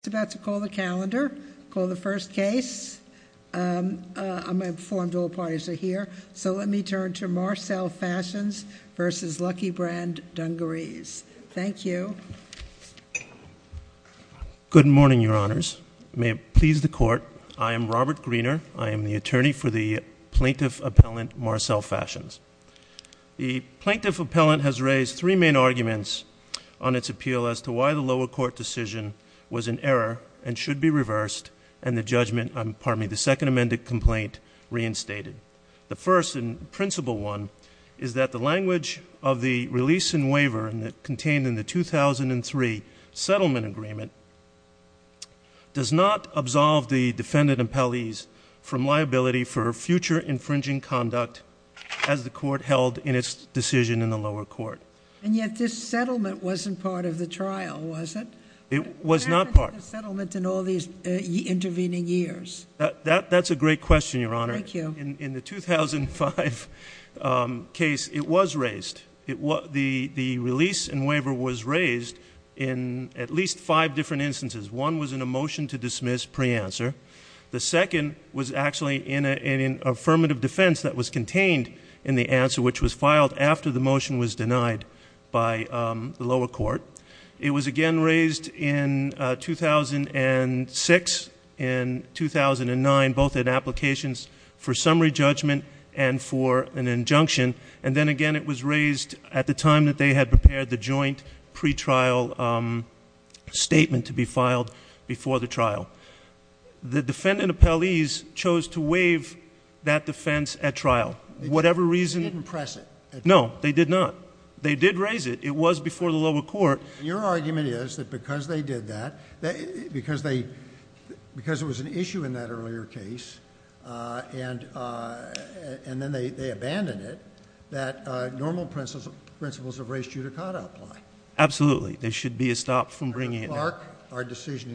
It's about to call the calendar, call the first case, I'm informed all parties are here, so let me turn to Marcel Fashions v. Lucky Brand Dungarees. Thank you. Good morning, Your Honors. May it please the Court, I am Robert Greener. I am the attorney for the plaintiff appellant, Marcel Fashions. The plaintiff appellant has raised three main arguments on its appeal as to why the lower court decision was in error and should be reversed and the judgment, pardon me, the second amended complaint reinstated. The first and principal one is that the language of the release and waiver contained in the 2003 settlement agreement does not absolve the defendant appellees from liability for future infringing conduct as the court held in its decision in the lower court. And yet this settlement wasn't part of the trial, was it? It was not part of it. What happened to the settlement in all these intervening years? That's a great question, Your Honor. Thank you. In the 2005 case, it was raised. The release and waiver was raised in at least five different instances. One was in a motion to dismiss pre-answer. The second was actually in an affirmative defense that was contained in the answer, which was filed after the motion was denied by the lower court. It was again raised in 2006 and 2009, both in applications for summary judgment and for an injunction. And then again, it was raised at the time that they had prepared the joint pretrial statement to be filed before the trial. The defendant appellees chose to waive that defense at trial. Whatever reason. They didn't press it. No, they did not. They did raise it. It was before the lower court. Your argument is that because they did that, because it was an issue in that earlier case, and then they abandoned it, that normal principles of race judicata apply. Absolutely. There should be a stop from bringing it up. Yes, Your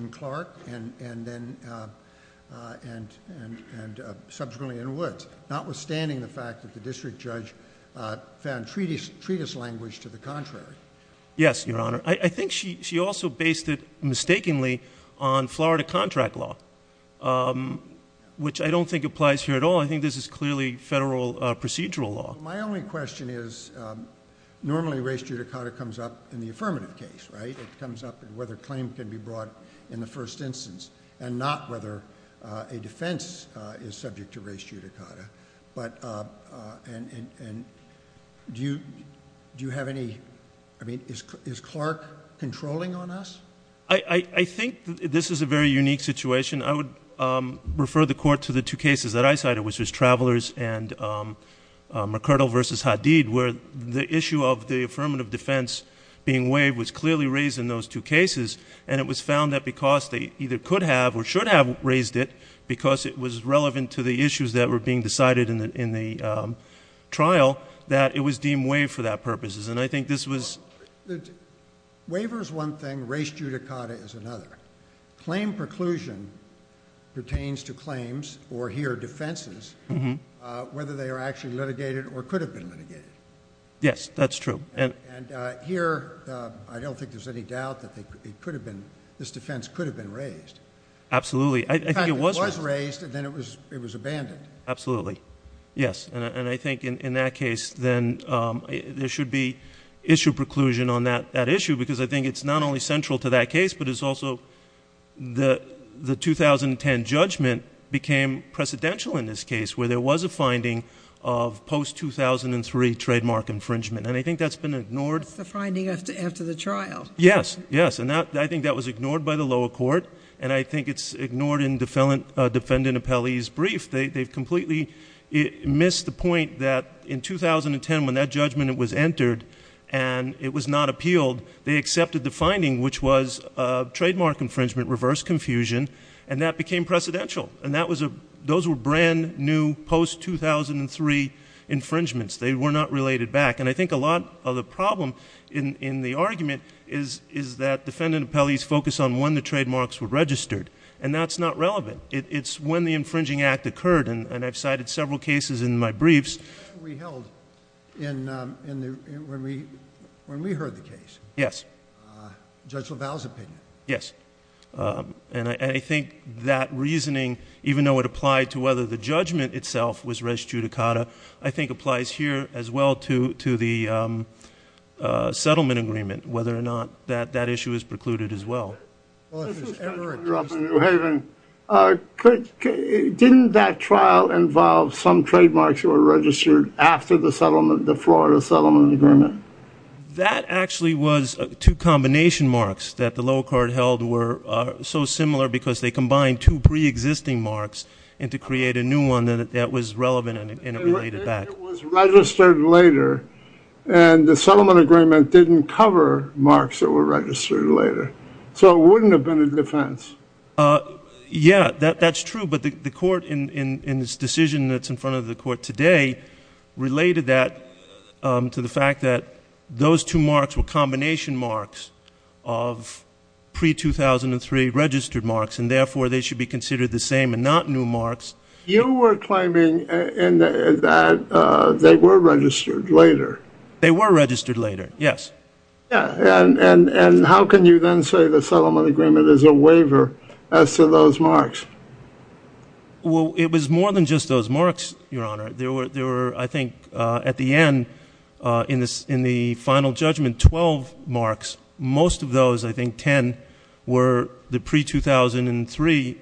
Honor. I think she also based it mistakenly on Florida contract law, which I don't think applies here at all. I think this is clearly federal procedural law. My only question is normally race judicata comes up in the affirmative case, right? It comes up in whether claim can be brought in the first instance and not whether a defense is subject to race judicata. Do you have any... I mean, is Clark controlling on us? I think this is a very unique situation. I would refer the court to the two cases that I cited, which was Travelers and McCurdle v. Hadid, where the issue of the affirmative defense being waived was clearly raised in those two cases, and it was found that because they either could have or should have raised it, because it was relevant to the issues that were being decided in the trial, that it was deemed waived for that purposes. And I think this was... Waiver is one thing. Race judicata is another. Claim preclusion pertains to claims, or here defenses, whether they are actually litigated or could have been litigated. Yes, that's true. And here, I don't think there's any doubt that this defense could have been raised. Absolutely. In fact, it was raised, and then it was abandoned. Absolutely. Yes, and I think in that case, then there should be issue preclusion on that issue, because I think it's not only central to that case, but it's also... The 2010 judgment became precedential in this case, where there was a finding of post-2003 trademark infringement. And I think that's been ignored. That's the finding after the trial. Yes, yes. And I think that was ignored by the lower court, and I think it's ignored in Defendant Appellee's brief. They've completely missed the point that in 2010, when that judgment was entered, and it was not appealed, they accepted the finding, which was a trademark infringement, reverse confusion, and that became precedential. And those were brand-new, post-2003 infringements. They were not related back. And I think a lot of the problem in the argument is that Defendant Appellee's focus on when the trademarks were registered, and that's not relevant. It's when the infringing act occurred, and I've cited several cases in my briefs... Yes. Judge LaValle's opinion. Yes. And I think that reasoning, even though it applied to whether the judgment itself was res judicata, I think applies here as well to the settlement agreement, whether or not that issue is precluded as well. Well, if there's ever a case... I grew up in New Haven. Didn't that trial involve some trademarks that were registered after the Florida settlement agreement? That actually was two combination marks that the lower court held were so similar because they combined two pre-existing marks and to create a new one that was relevant and related back. It was registered later, and the settlement agreement didn't cover marks that were registered later. So, it wouldn't have been a defense. Yeah, that's true. But the court, in its decision that's in front of the court today, related that to the fact that those two marks were combination marks of pre-2003 registered marks, and therefore they should be considered the same and not new marks. You were claiming that they were registered later. They were registered later, yes. And how can you then say the settlement agreement is a waiver as to those marks? Well, it was more than just those marks, Your Honor. There were, I think, at the end in the final judgment, 12 marks. Most of those, I think 10, were the pre-2003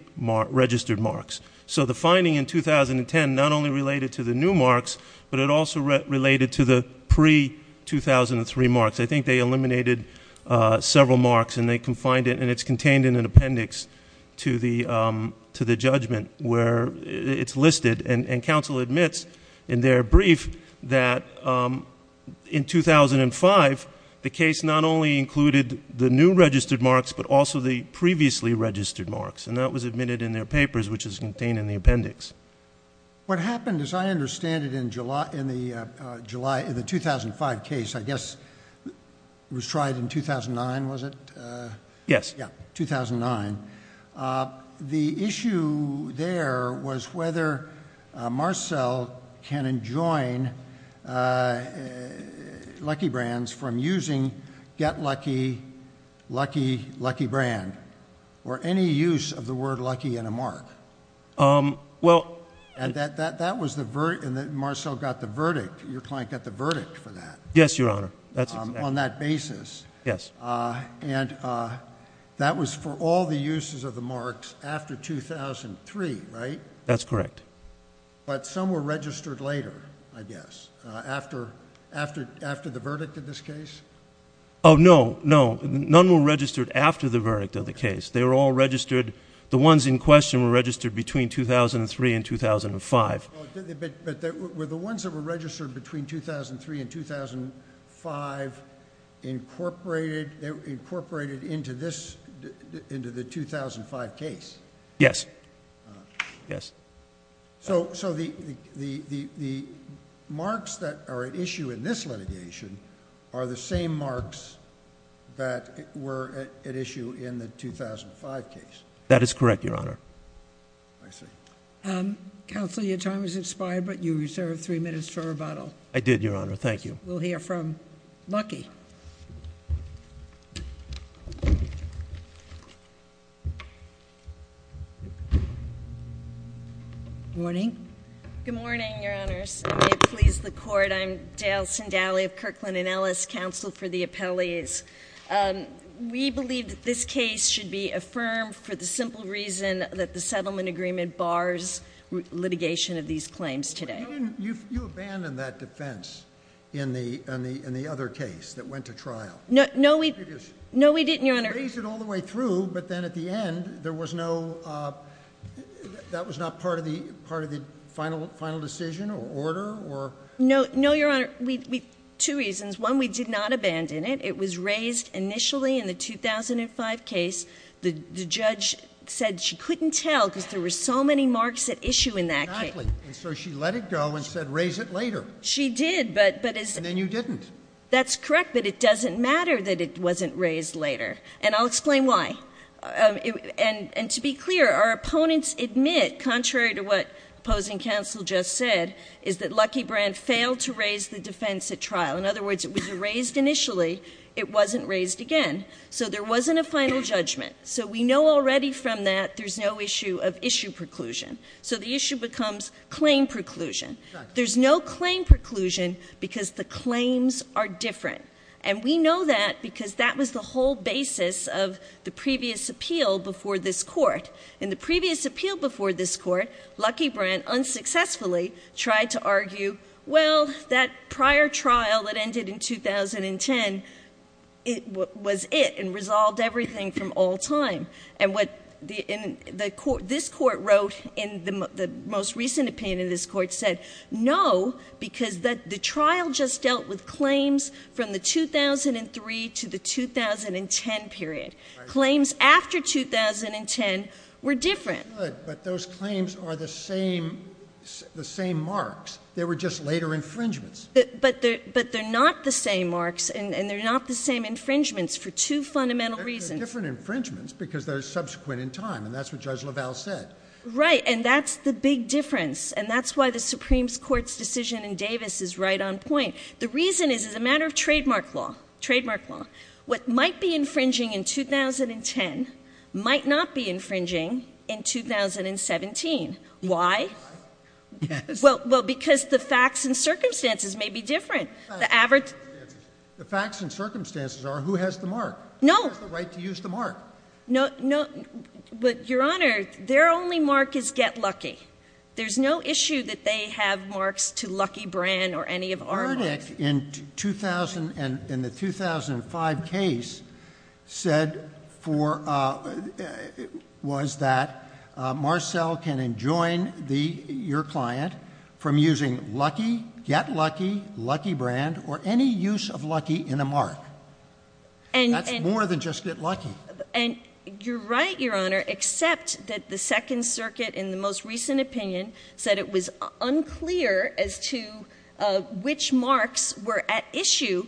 registered marks. So, the finding in 2010 not only related to the new marks, but it also related to the pre-2003 marks. I think they eliminated several marks, and it's contained in an appendix to the judgment where it's listed. And counsel admits in their brief that in 2005, the case not only included the new registered marks, but also the previously registered marks, and that was admitted in their papers, which is contained in the appendix. What happened, as I understand it, in the 2005 case, I guess it was tried in 2009, was it? Yes. Yeah, 2009. The issue there was whether Marcel can enjoin Lucky Brands from using Get Lucky, Lucky, Lucky Brand, or any use of the word lucky in a mark. Yes. And Marcel got the verdict. Your client got the verdict for that. Yes, Your Honor. On that basis. Yes. And that was for all the uses of the marks after 2003, right? That's correct. But some were registered later, I guess, after the verdict of this case? Oh, no, no. None were registered after the verdict of the case. They were all registered. The ones in question were registered between 2003 and 2005. But were the ones that were registered between 2003 and 2005 incorporated into the 2005 case? Yes. Yes. So the marks that are at issue in this litigation are the same marks that were at issue in the 2005 case? That is correct, Your Honor. I see. Counsel, your time has expired, but you reserved three minutes for rebuttal. I did, Your Honor. Thank you. We'll hear from Lucky. Good morning. Good morning, Your Honors. I may please the Court. I'm Dale Sindally of Kirkland & Ellis Counsel for the Appellees. We believe that this case should be affirmed for the simple reason that the settlement agreement bars litigation of these claims today. You abandoned that defense in the other case that went to trial. No, we didn't, Your Honor. You raised it all the way through, but then at the end there was no – that was not part of the final decision or order? No, Your Honor. We – two reasons. One, we did not abandon it. It was raised initially in the 2005 case. The judge said she couldn't tell because there were so many marks at issue in that case. Exactly. And so she let it go and said raise it later. She did, but – And then you didn't. That's correct. But it doesn't matter that it wasn't raised later. And I'll explain why. And to be clear, our opponents admit, contrary to what opposing counsel just said, is that Lucky Brand failed to raise the defense at trial. In other words, it was raised initially. It wasn't raised again. So there wasn't a final judgment. So we know already from that there's no issue of issue preclusion. So the issue becomes claim preclusion. There's no claim preclusion because the claims are different. And we know that because that was the whole basis of the previous appeal before this court. In the previous appeal before this court, Lucky Brand unsuccessfully tried to argue, well, that prior trial that ended in 2010 was it and resolved everything from all time. And what this court wrote in the most recent opinion of this court said, no, because the trial just dealt with claims from the 2003 to the 2010 period. Claims after 2010 were different. But those claims are the same marks. They were just later infringements. But they're not the same marks and they're not the same infringements for two fundamental reasons. They're different infringements because they're subsequent in time. And that's what Judge LaValle said. Right. And that's the big difference. And that's why the Supreme Court's decision in Davis is right on point. The reason is it's a matter of trademark law. Trademark law. What might be infringing in 2010 might not be infringing in 2017. Why? Well, because the facts and circumstances may be different. The facts and circumstances are who has the mark? No. Who has the right to use the mark? No. Your Honor, their only mark is get lucky. There's no issue that they have marks to lucky brand or any of our marks. The verdict in the 2005 case said for, was that Marcel can enjoin your client from using lucky, get lucky, lucky brand, or any use of lucky in a mark. That's more than just get lucky. And you're right, Your Honor, except that the Second Circuit in the most recent opinion said it was unclear as to which marks were at issue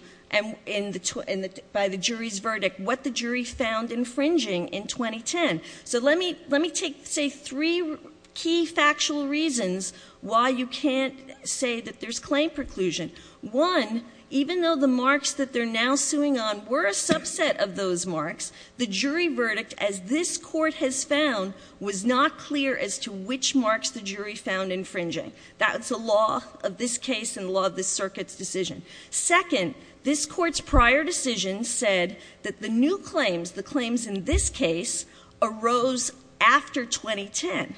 by the jury's verdict, what the jury found infringing in 2010. So let me take, say, three key factual reasons why you can't say that there's claim preclusion. One, even though the marks that they're now suing on were a subset of those marks, the jury verdict, as this Court has found, was not clear as to which marks the jury found infringing. That's the law of this case and the law of this Circuit's decision. Second, this Court's prior decision said that the new claims, the claims in this case, arose after 2010,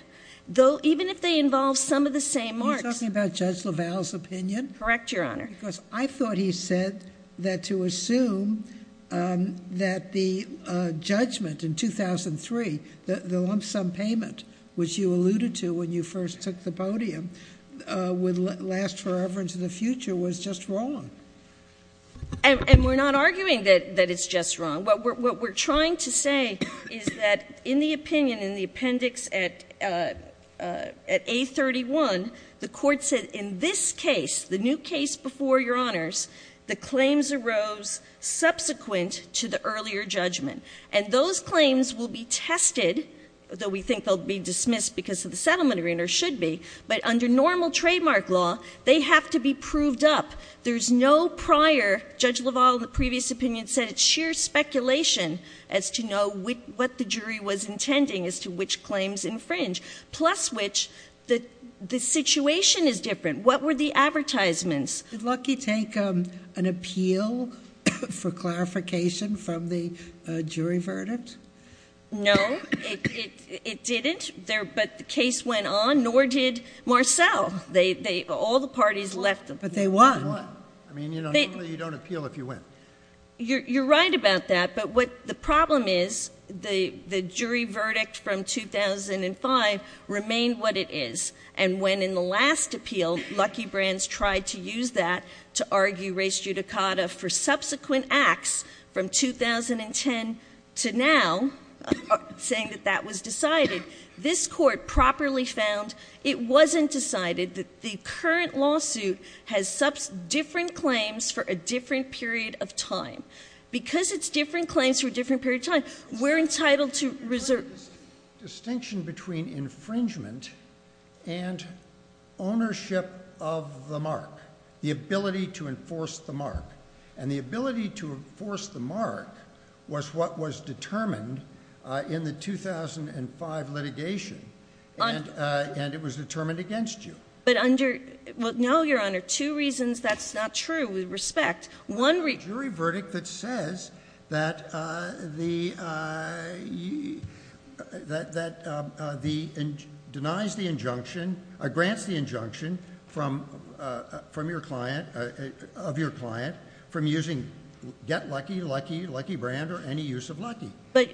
though even if they involve some of the same marks. You're talking about Judge LaValle's opinion? Correct, Your Honor. Because I thought he said that to assume that the judgment in 2003, the lump sum payment which you alluded to when you first took the podium, would last forever into the future was just wrong. And we're not arguing that it's just wrong. What we're trying to say is that in the opinion, in the appendix at A31, the Court said in this case, the new case before Your Honors, the claims arose subsequent to the earlier judgment. And those claims will be tested, though we think they'll be dismissed because of the settlement agreement, or should be. But under normal trademark law, they have to be proved up. There's no prior, Judge LaValle in the previous opinion said it's sheer speculation as to know what the jury was intending as to which claims infringe. Plus which, the situation is different. What were the advertisements? Did Lucky take an appeal for clarification from the jury verdict? No, it didn't. But the case went on, nor did Marcell. All the parties left. But they won. They won. I mean, normally you don't appeal if you win. You're right about that. But what the problem is, the jury verdict from 2005 remained what it is. And when in the last appeal Lucky Brands tried to use that to argue res judicata for subsequent acts from 2010 to now, saying that that was decided, this court properly found it wasn't decided, that the current lawsuit has different claims for a different period of time. Because it's different claims for a different period of time, we're entitled to reserve. The distinction between infringement and ownership of the mark, the ability to enforce the mark. And the ability to enforce the mark was what was determined in the 2005 litigation. And it was determined against you. But under, well, no, Your Honor, two reasons that's not true with respect. One reason.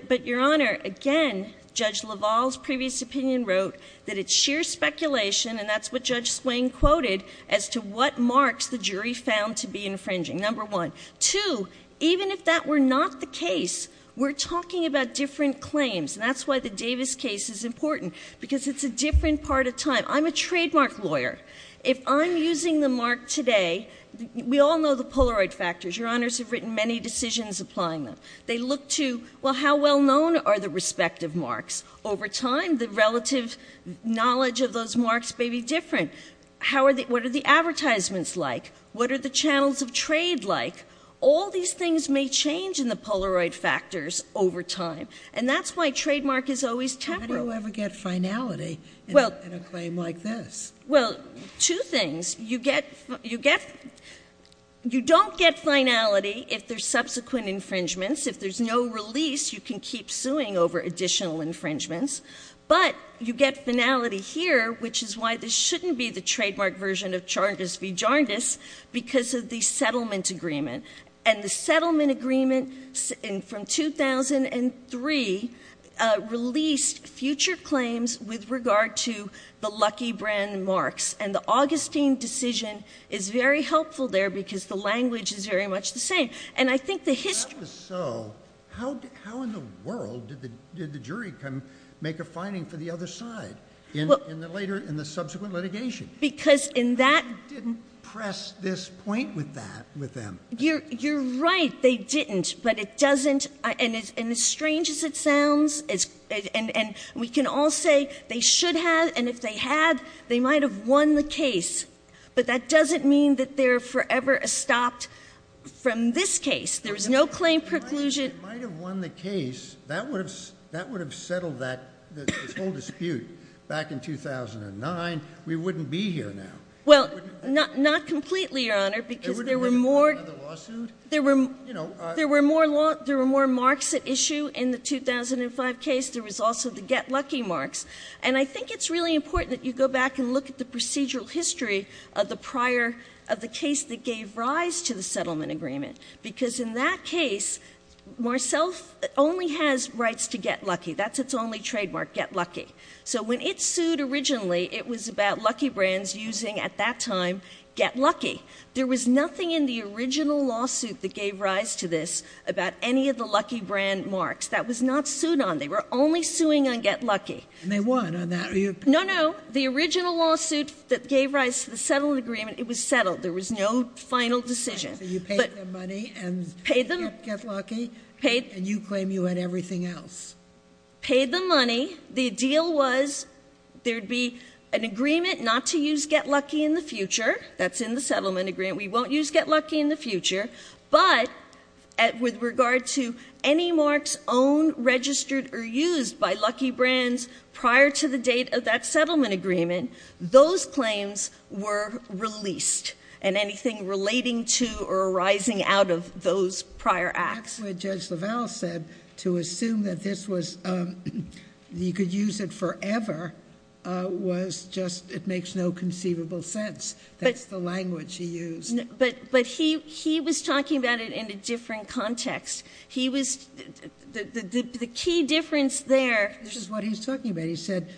But, Your Honor, again, Judge LaValle's previous opinion wrote that it's sheer speculation, and that's what Judge Swain quoted, as to what marks the jury found to be infringing. Number one. Two, even if that were not the case, we're talking about different claims. And that's why the Davis case is important, because it's a different part of time. I'm a trademark lawyer. If I'm using the mark today, we all know the Polaroid factors. Your Honors have written many decisions applying them. They look to, well, how well known are the respective marks? Over time, the relative knowledge of those marks may be different. What are the advertisements like? What are the channels of trade like? All these things may change in the Polaroid factors over time. And that's why trademark is always temporal. How do you ever get finality in a claim like this? Well, two things. You don't get finality if there's subsequent infringements. If there's no release, you can keep suing over additional infringements. But you get finality here, which is why this shouldn't be the trademark version of Charndis v. Jarndis, because of the settlement agreement. And the settlement agreement from 2003 released future claims with regard to the Lucky Brand marks. And the Augustine decision is very helpful there, because the language is very much the same. If that was so, how in the world did the jury come make a finding for the other side in the subsequent litigation? Because in that— They didn't press this point with them. You're right, they didn't. But it doesn't—and as strange as it sounds, and we can all say they should have, and if they had, they might have won the case. But that doesn't mean that they're forever stopped from this case. There's no claim preclusion. It might have won the case. That would have settled that whole dispute back in 2009. We wouldn't be here now. Well, not completely, Your Honor, because there were more— There would have been another lawsuit. There were more marks at issue in the 2005 case. There was also the Get Lucky marks. And I think it's really important that you go back and look at the procedural history of the prior—of the case that gave rise to the settlement agreement. Because in that case, Marcell only has rights to Get Lucky. That's its only trademark, Get Lucky. So when it sued originally, it was about Lucky Brands using, at that time, Get Lucky. There was nothing in the original lawsuit that gave rise to this about any of the Lucky Brand marks. That was not sued on. They were only suing on Get Lucky. And they won on that? No, no. The original lawsuit that gave rise to the settlement agreement, it was settled. There was no final decision. So you paid them money and— Paid them— —and you claim you had everything else. Paid them money. The deal was there would be an agreement not to use Get Lucky in the future. That's in the settlement agreement. We won't use Get Lucky in the future. But with regard to any marks owned, registered, or used by Lucky Brands prior to the date of that settlement agreement, those claims were released. And anything relating to or arising out of those prior acts— That's what Judge LaValle said. To assume that this was—you could use it forever was just—it makes no conceivable sense. That's the language he used. But he was talking about it in a different context. He was—the key difference there— This is what he was talking about. He said,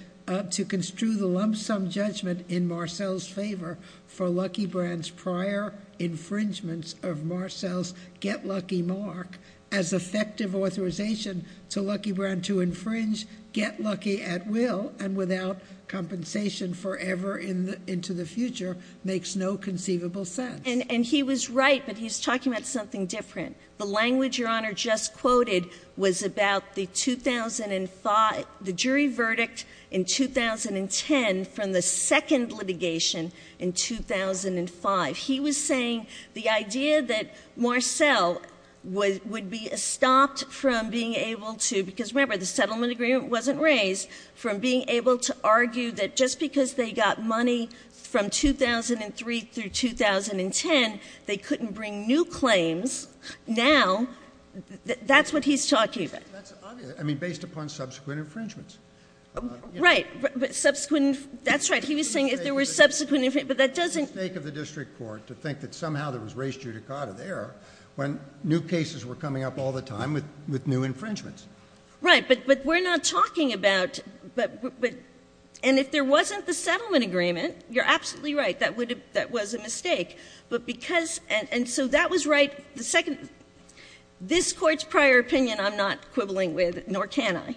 to construe the lump sum judgment in Marcell's favor for Lucky Brands' prior infringements of Marcell's Get Lucky mark as effective authorization to Lucky Brand to infringe Get Lucky at will and without compensation forever into the future makes no conceivable sense. And he was right, but he was talking about something different. The language Your Honor just quoted was about the 2005—the jury verdict in 2010 from the second litigation in 2005. He was saying the idea that Marcell would be stopped from being able to—because remember, they couldn't bring new claims. Now, that's what he's talking about. That's obvious. I mean, based upon subsequent infringements. Right. Subsequent—that's right. He was saying if there were subsequent—but that doesn't— It's a mistake of the district court to think that somehow there was res judicata there when new cases were coming up all the time with new infringements. Right. But we're not talking about—and if there wasn't the settlement agreement, you're absolutely right. That was a mistake. But because—and so that was right. The second—this Court's prior opinion I'm not quibbling with, nor can I.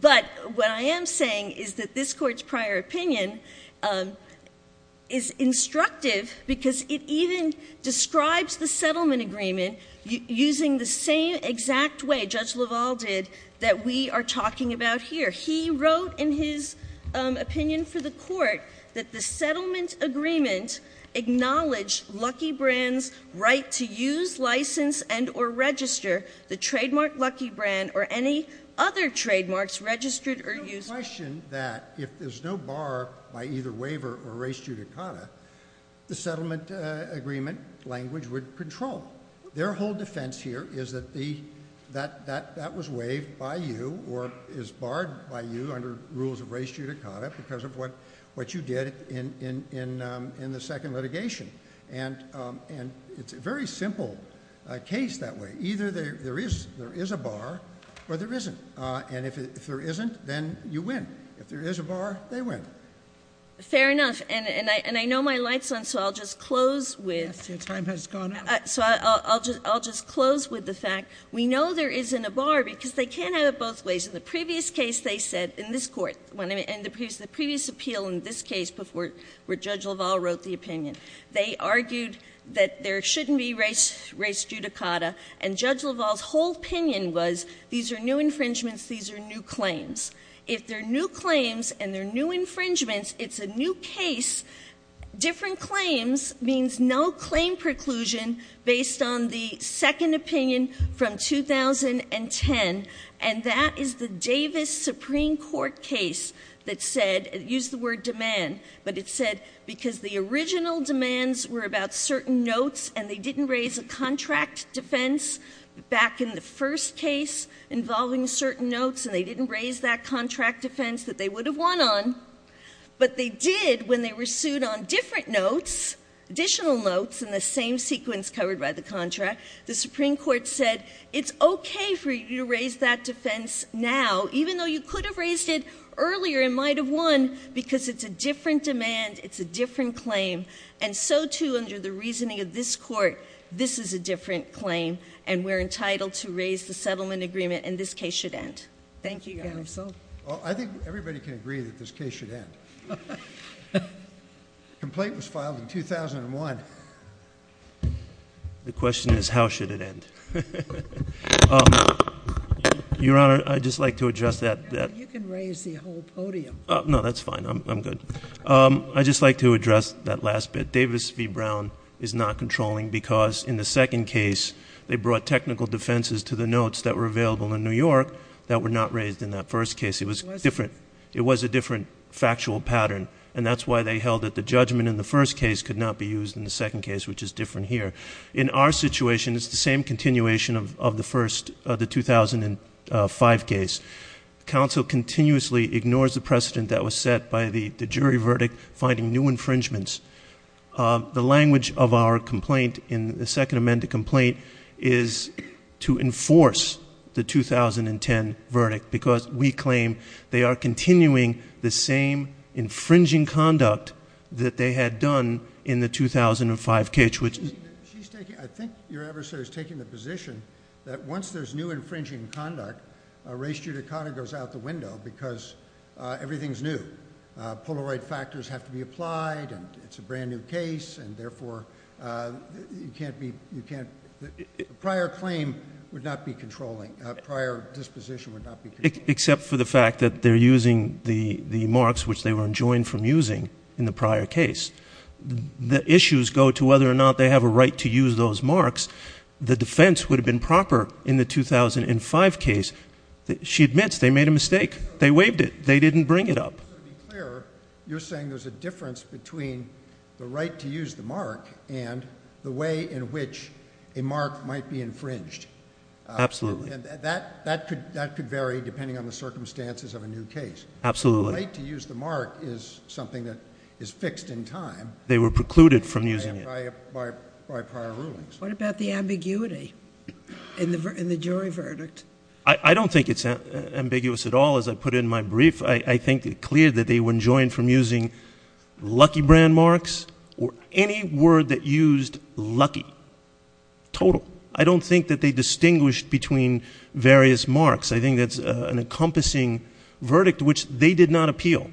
But what I am saying is that this Court's prior opinion is instructive because it even describes the settlement agreement using the same exact way Judge LaValle did that we are talking about here. He wrote in his opinion for the Court that the settlement agreement acknowledged Lucky Brand's right to use, license, and or register the trademark Lucky Brand or any other trademarks registered or used— There's no question that if there's no bar by either waiver or res judicata, the settlement agreement language would control. Their whole defense here is that that was waived by you or is barred by you under rules of res judicata because of what you did in the second litigation. And it's a very simple case that way. Either there is a bar or there isn't. And if there isn't, then you win. If there is a bar, they win. Fair enough. And I know my light's on, so I'll just close with— I'll just close with the fact we know there isn't a bar because they can't have it both ways. In the previous case they said, in this Court, in the previous appeal in this case before where Judge LaValle wrote the opinion, they argued that there shouldn't be res judicata. And Judge LaValle's whole opinion was these are new infringements, these are new claims. If they're new claims and they're new infringements, it's a new case. Different claims means no claim preclusion based on the second opinion from 2010, and that is the Davis Supreme Court case that said—it used the word demand, but it said because the original demands were about certain notes and they didn't raise a contract defense back in the first case involving certain notes and they didn't raise that contract defense that they would have won on, but they did when they were sued on different notes, additional notes in the same sequence covered by the contract. The Supreme Court said it's okay for you to raise that defense now, even though you could have raised it earlier and might have won, because it's a different demand, it's a different claim, and so, too, under the reasoning of this Court, this is a different claim and we're entitled to raise the settlement agreement and this case should end. Thank you, Your Honor. I think everybody can agree that this case should end. The complaint was filed in 2001. The question is how should it end. Your Honor, I'd just like to address that— You can raise the whole podium. No, that's fine. I'm good. I'd just like to address that last bit. Davis v. Brown is not controlling because in the second case, they brought technical defenses to the notes that were available in New York that were not raised in that first case. It was a different factual pattern, and that's why they held that the judgment in the first case could not be used in the second case, which is different here. In our situation, it's the same continuation of the 2005 case. Counsel continuously ignores the precedent that was set by the jury verdict finding new infringements. The language of our complaint in the second amended complaint is to enforce the 2010 verdict because we claim they are continuing the same infringing conduct that they had done in the 2005 case, which— because everything's new. Polaroid factors have to be applied, and it's a brand-new case, and therefore, you can't be— A prior claim would not be controlling. A prior disposition would not be controlling. Except for the fact that they're using the marks which they were enjoined from using in the prior case. The issues go to whether or not they have a right to use those marks. The defense would have been proper in the 2005 case. She admits they made a mistake. They waived it. They didn't bring it up. To be clear, you're saying there's a difference between the right to use the mark and the way in which a mark might be infringed. Absolutely. That could vary depending on the circumstances of a new case. Absolutely. The right to use the mark is something that is fixed in time. They were precluded from using it. By prior rulings. What about the ambiguity in the jury verdict? I don't think it's ambiguous at all. As I put it in my brief, I think it's clear that they were enjoined from using lucky brand marks or any word that used lucky. Total. I don't think that they distinguished between various marks. I think that's an encompassing verdict which they did not appeal.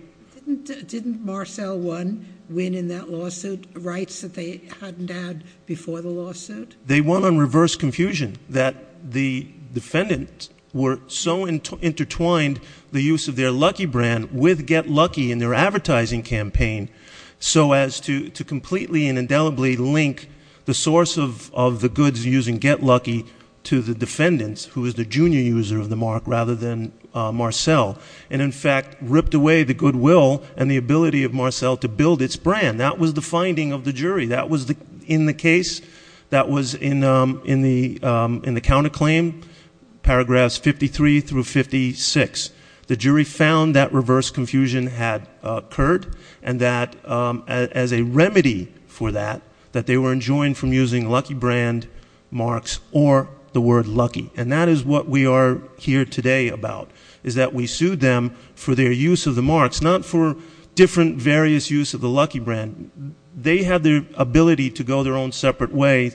Didn't Marcel win in that lawsuit rights that they hadn't had before the lawsuit? They won on reverse confusion that the defendant were so intertwined the use of their lucky brand with get lucky in their advertising campaign so as to completely and indelibly link the source of the goods using get lucky to the defendant who is the junior user of the mark rather than Marcel. And, in fact, ripped away the goodwill and the ability of Marcel to build its brand. That was the finding of the jury. That was in the case that was in the counterclaim, paragraphs 53 through 56. The jury found that reverse confusion had occurred and that as a remedy for that, that they were enjoined from using lucky brand marks or the word lucky. And that is what we are here today about is that we sued them for their use of the marks, not for different various use of the lucky brand. They had the ability to go their own separate way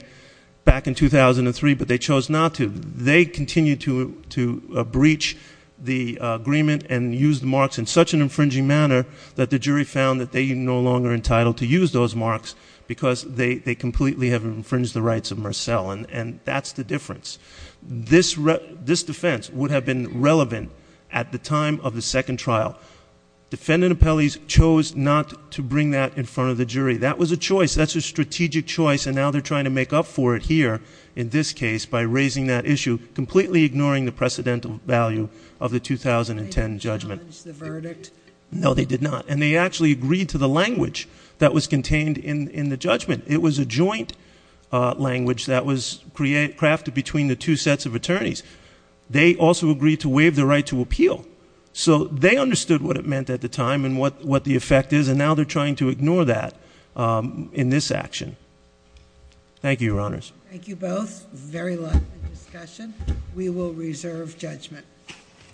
back in 2003, but they chose not to. They continued to breach the agreement and use the marks in such an infringing manner that the jury found that they are no longer entitled to use those marks because they completely have infringed the rights of Marcel, and that's the difference. This defense would have been relevant at the time of the second trial. Defendant Apelles chose not to bring that in front of the jury. That was a choice. That's a strategic choice, and now they're trying to make up for it here in this case by raising that issue, completely ignoring the precedental value of the 2010 judgment. They didn't challenge the verdict? No, they did not. And they actually agreed to the language that was contained in the judgment. It was a joint language that was crafted between the two sets of attorneys. They also agreed to waive the right to appeal. So they understood what it meant at the time and what the effect is, and now they're trying to ignore that in this action. Thank you, Your Honors. Thank you both. Very lovely discussion. We will reserve judgment.